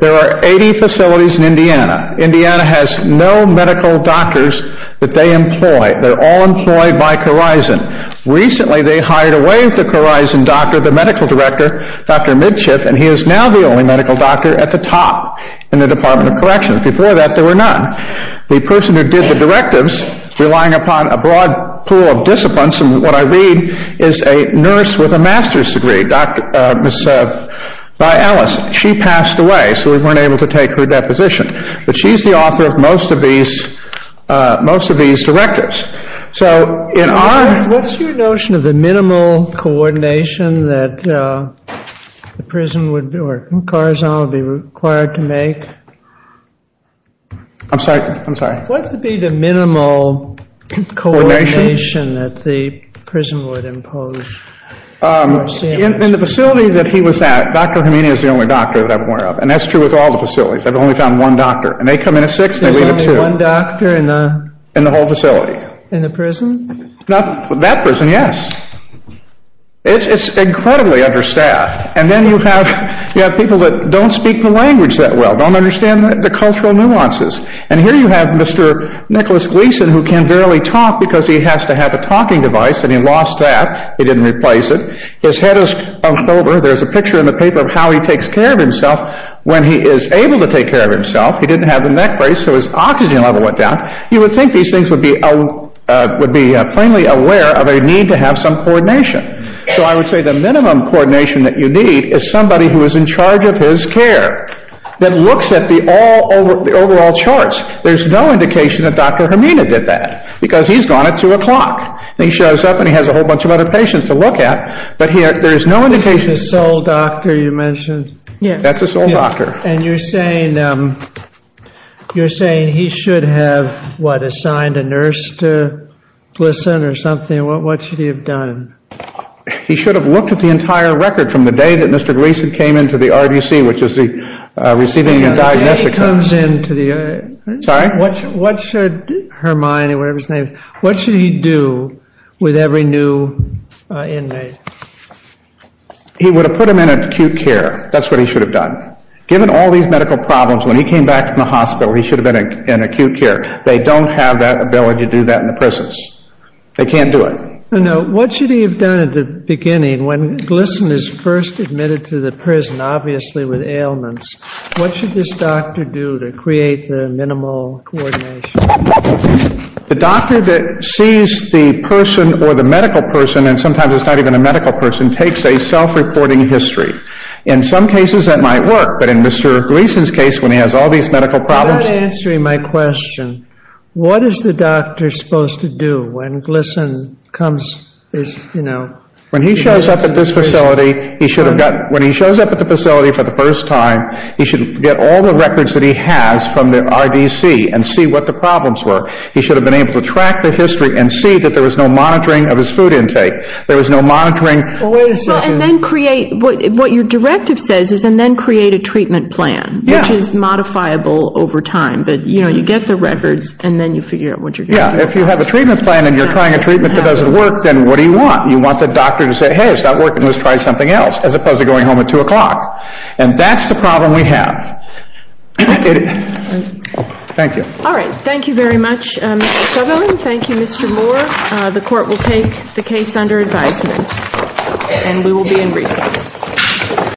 there are 80 facilities in Indiana. Indiana has no medical doctors that they employ. They're all employed by Corizon. Recently, they hired away the Corizon doctor, the medical director, Dr. Midship, and he is now the only medical doctor at the top in the Department of Corrections. Before that, there were none. The person who did the directives, relying upon a broad pool of disciplines, and what I read is a nurse with a master's degree, Dr. Midship, by Alice. She passed away, so we weren't able to take her deposition. But she's the author of most of these directives. What's your notion of the minimal coordination that Corizon would be required to make? I'm sorry? What would be the minimal coordination that the prison would impose? In the facility that he was at, Dr. Khamenei was the only doctor that I'm aware of, and that's true with all the facilities. I've only found one doctor, and they come in at 6, and they leave at 2. In the whole facility? In the prison? That prison, yes. It's incredibly understaffed. And then you have people that don't speak the language that well, don't understand the cultural nuances. And here you have Mr. Nicholas Gleason, who can barely talk because he has to have a talking device, and he lost that. He didn't replace it. His head is hunched over. There's a picture in the paper of how he takes care of himself. When he is able to take care of himself, he didn't have the neck brace, so his oxygen level went down. You would think these things would be plainly aware of a need to have some coordination. So I would say the minimum coordination that you need is somebody who is in charge of his care, that looks at the overall charts. There's no indication that Dr. Khamenei did that because he's gone at 2 o'clock. He shows up, and he has a whole bunch of other patients to look at, but there's no indication. This is the sole doctor you mentioned? Yes. That's the sole doctor. And you're saying he should have, what, assigned a nurse to listen or something? What should he have done? He should have looked at the entire record from the day that Mr. Gleason came into the RBC, which is the receiving and diagnostic center. When he comes into the RBC, what should he do with every new inmate? He would have put them in acute care. That's what he should have done. Given all these medical problems, when he came back from the hospital, he should have been in acute care. They don't have that ability to do that in the prisons. They can't do it. Now, what should he have done at the beginning when Gleason is first admitted to the prison, obviously with ailments, what should this doctor do to create the minimal coordination? The doctor that sees the person or the medical person, and sometimes it's not even a medical person, takes a self-reporting history. In some cases that might work, but in Mr. Gleason's case, when he has all these medical problems— You're not answering my question. What is the doctor supposed to do when Gleason comes, you know— When he shows up at this facility, he should have got— when he shows up at the facility for the first time, he should get all the records that he has from the RBC and see what the problems were. He should have been able to track the history and see that there was no monitoring of his food intake. There was no monitoring— And then create—what your directive says is then create a treatment plan, which is modifiable over time. But, you know, you get the records, and then you figure out what you're going to do. Yeah, if you have a treatment plan and you're trying a treatment that doesn't work, then what do you want? You want the doctor to say, hey, it's not working, let's try something else, as opposed to going home at 2 o'clock. And that's the problem we have. Thank you. All right, thank you very much, Mr. Sutherland. Thank you, Mr. Moore. The court will take the case under advisement, and we will be in recess.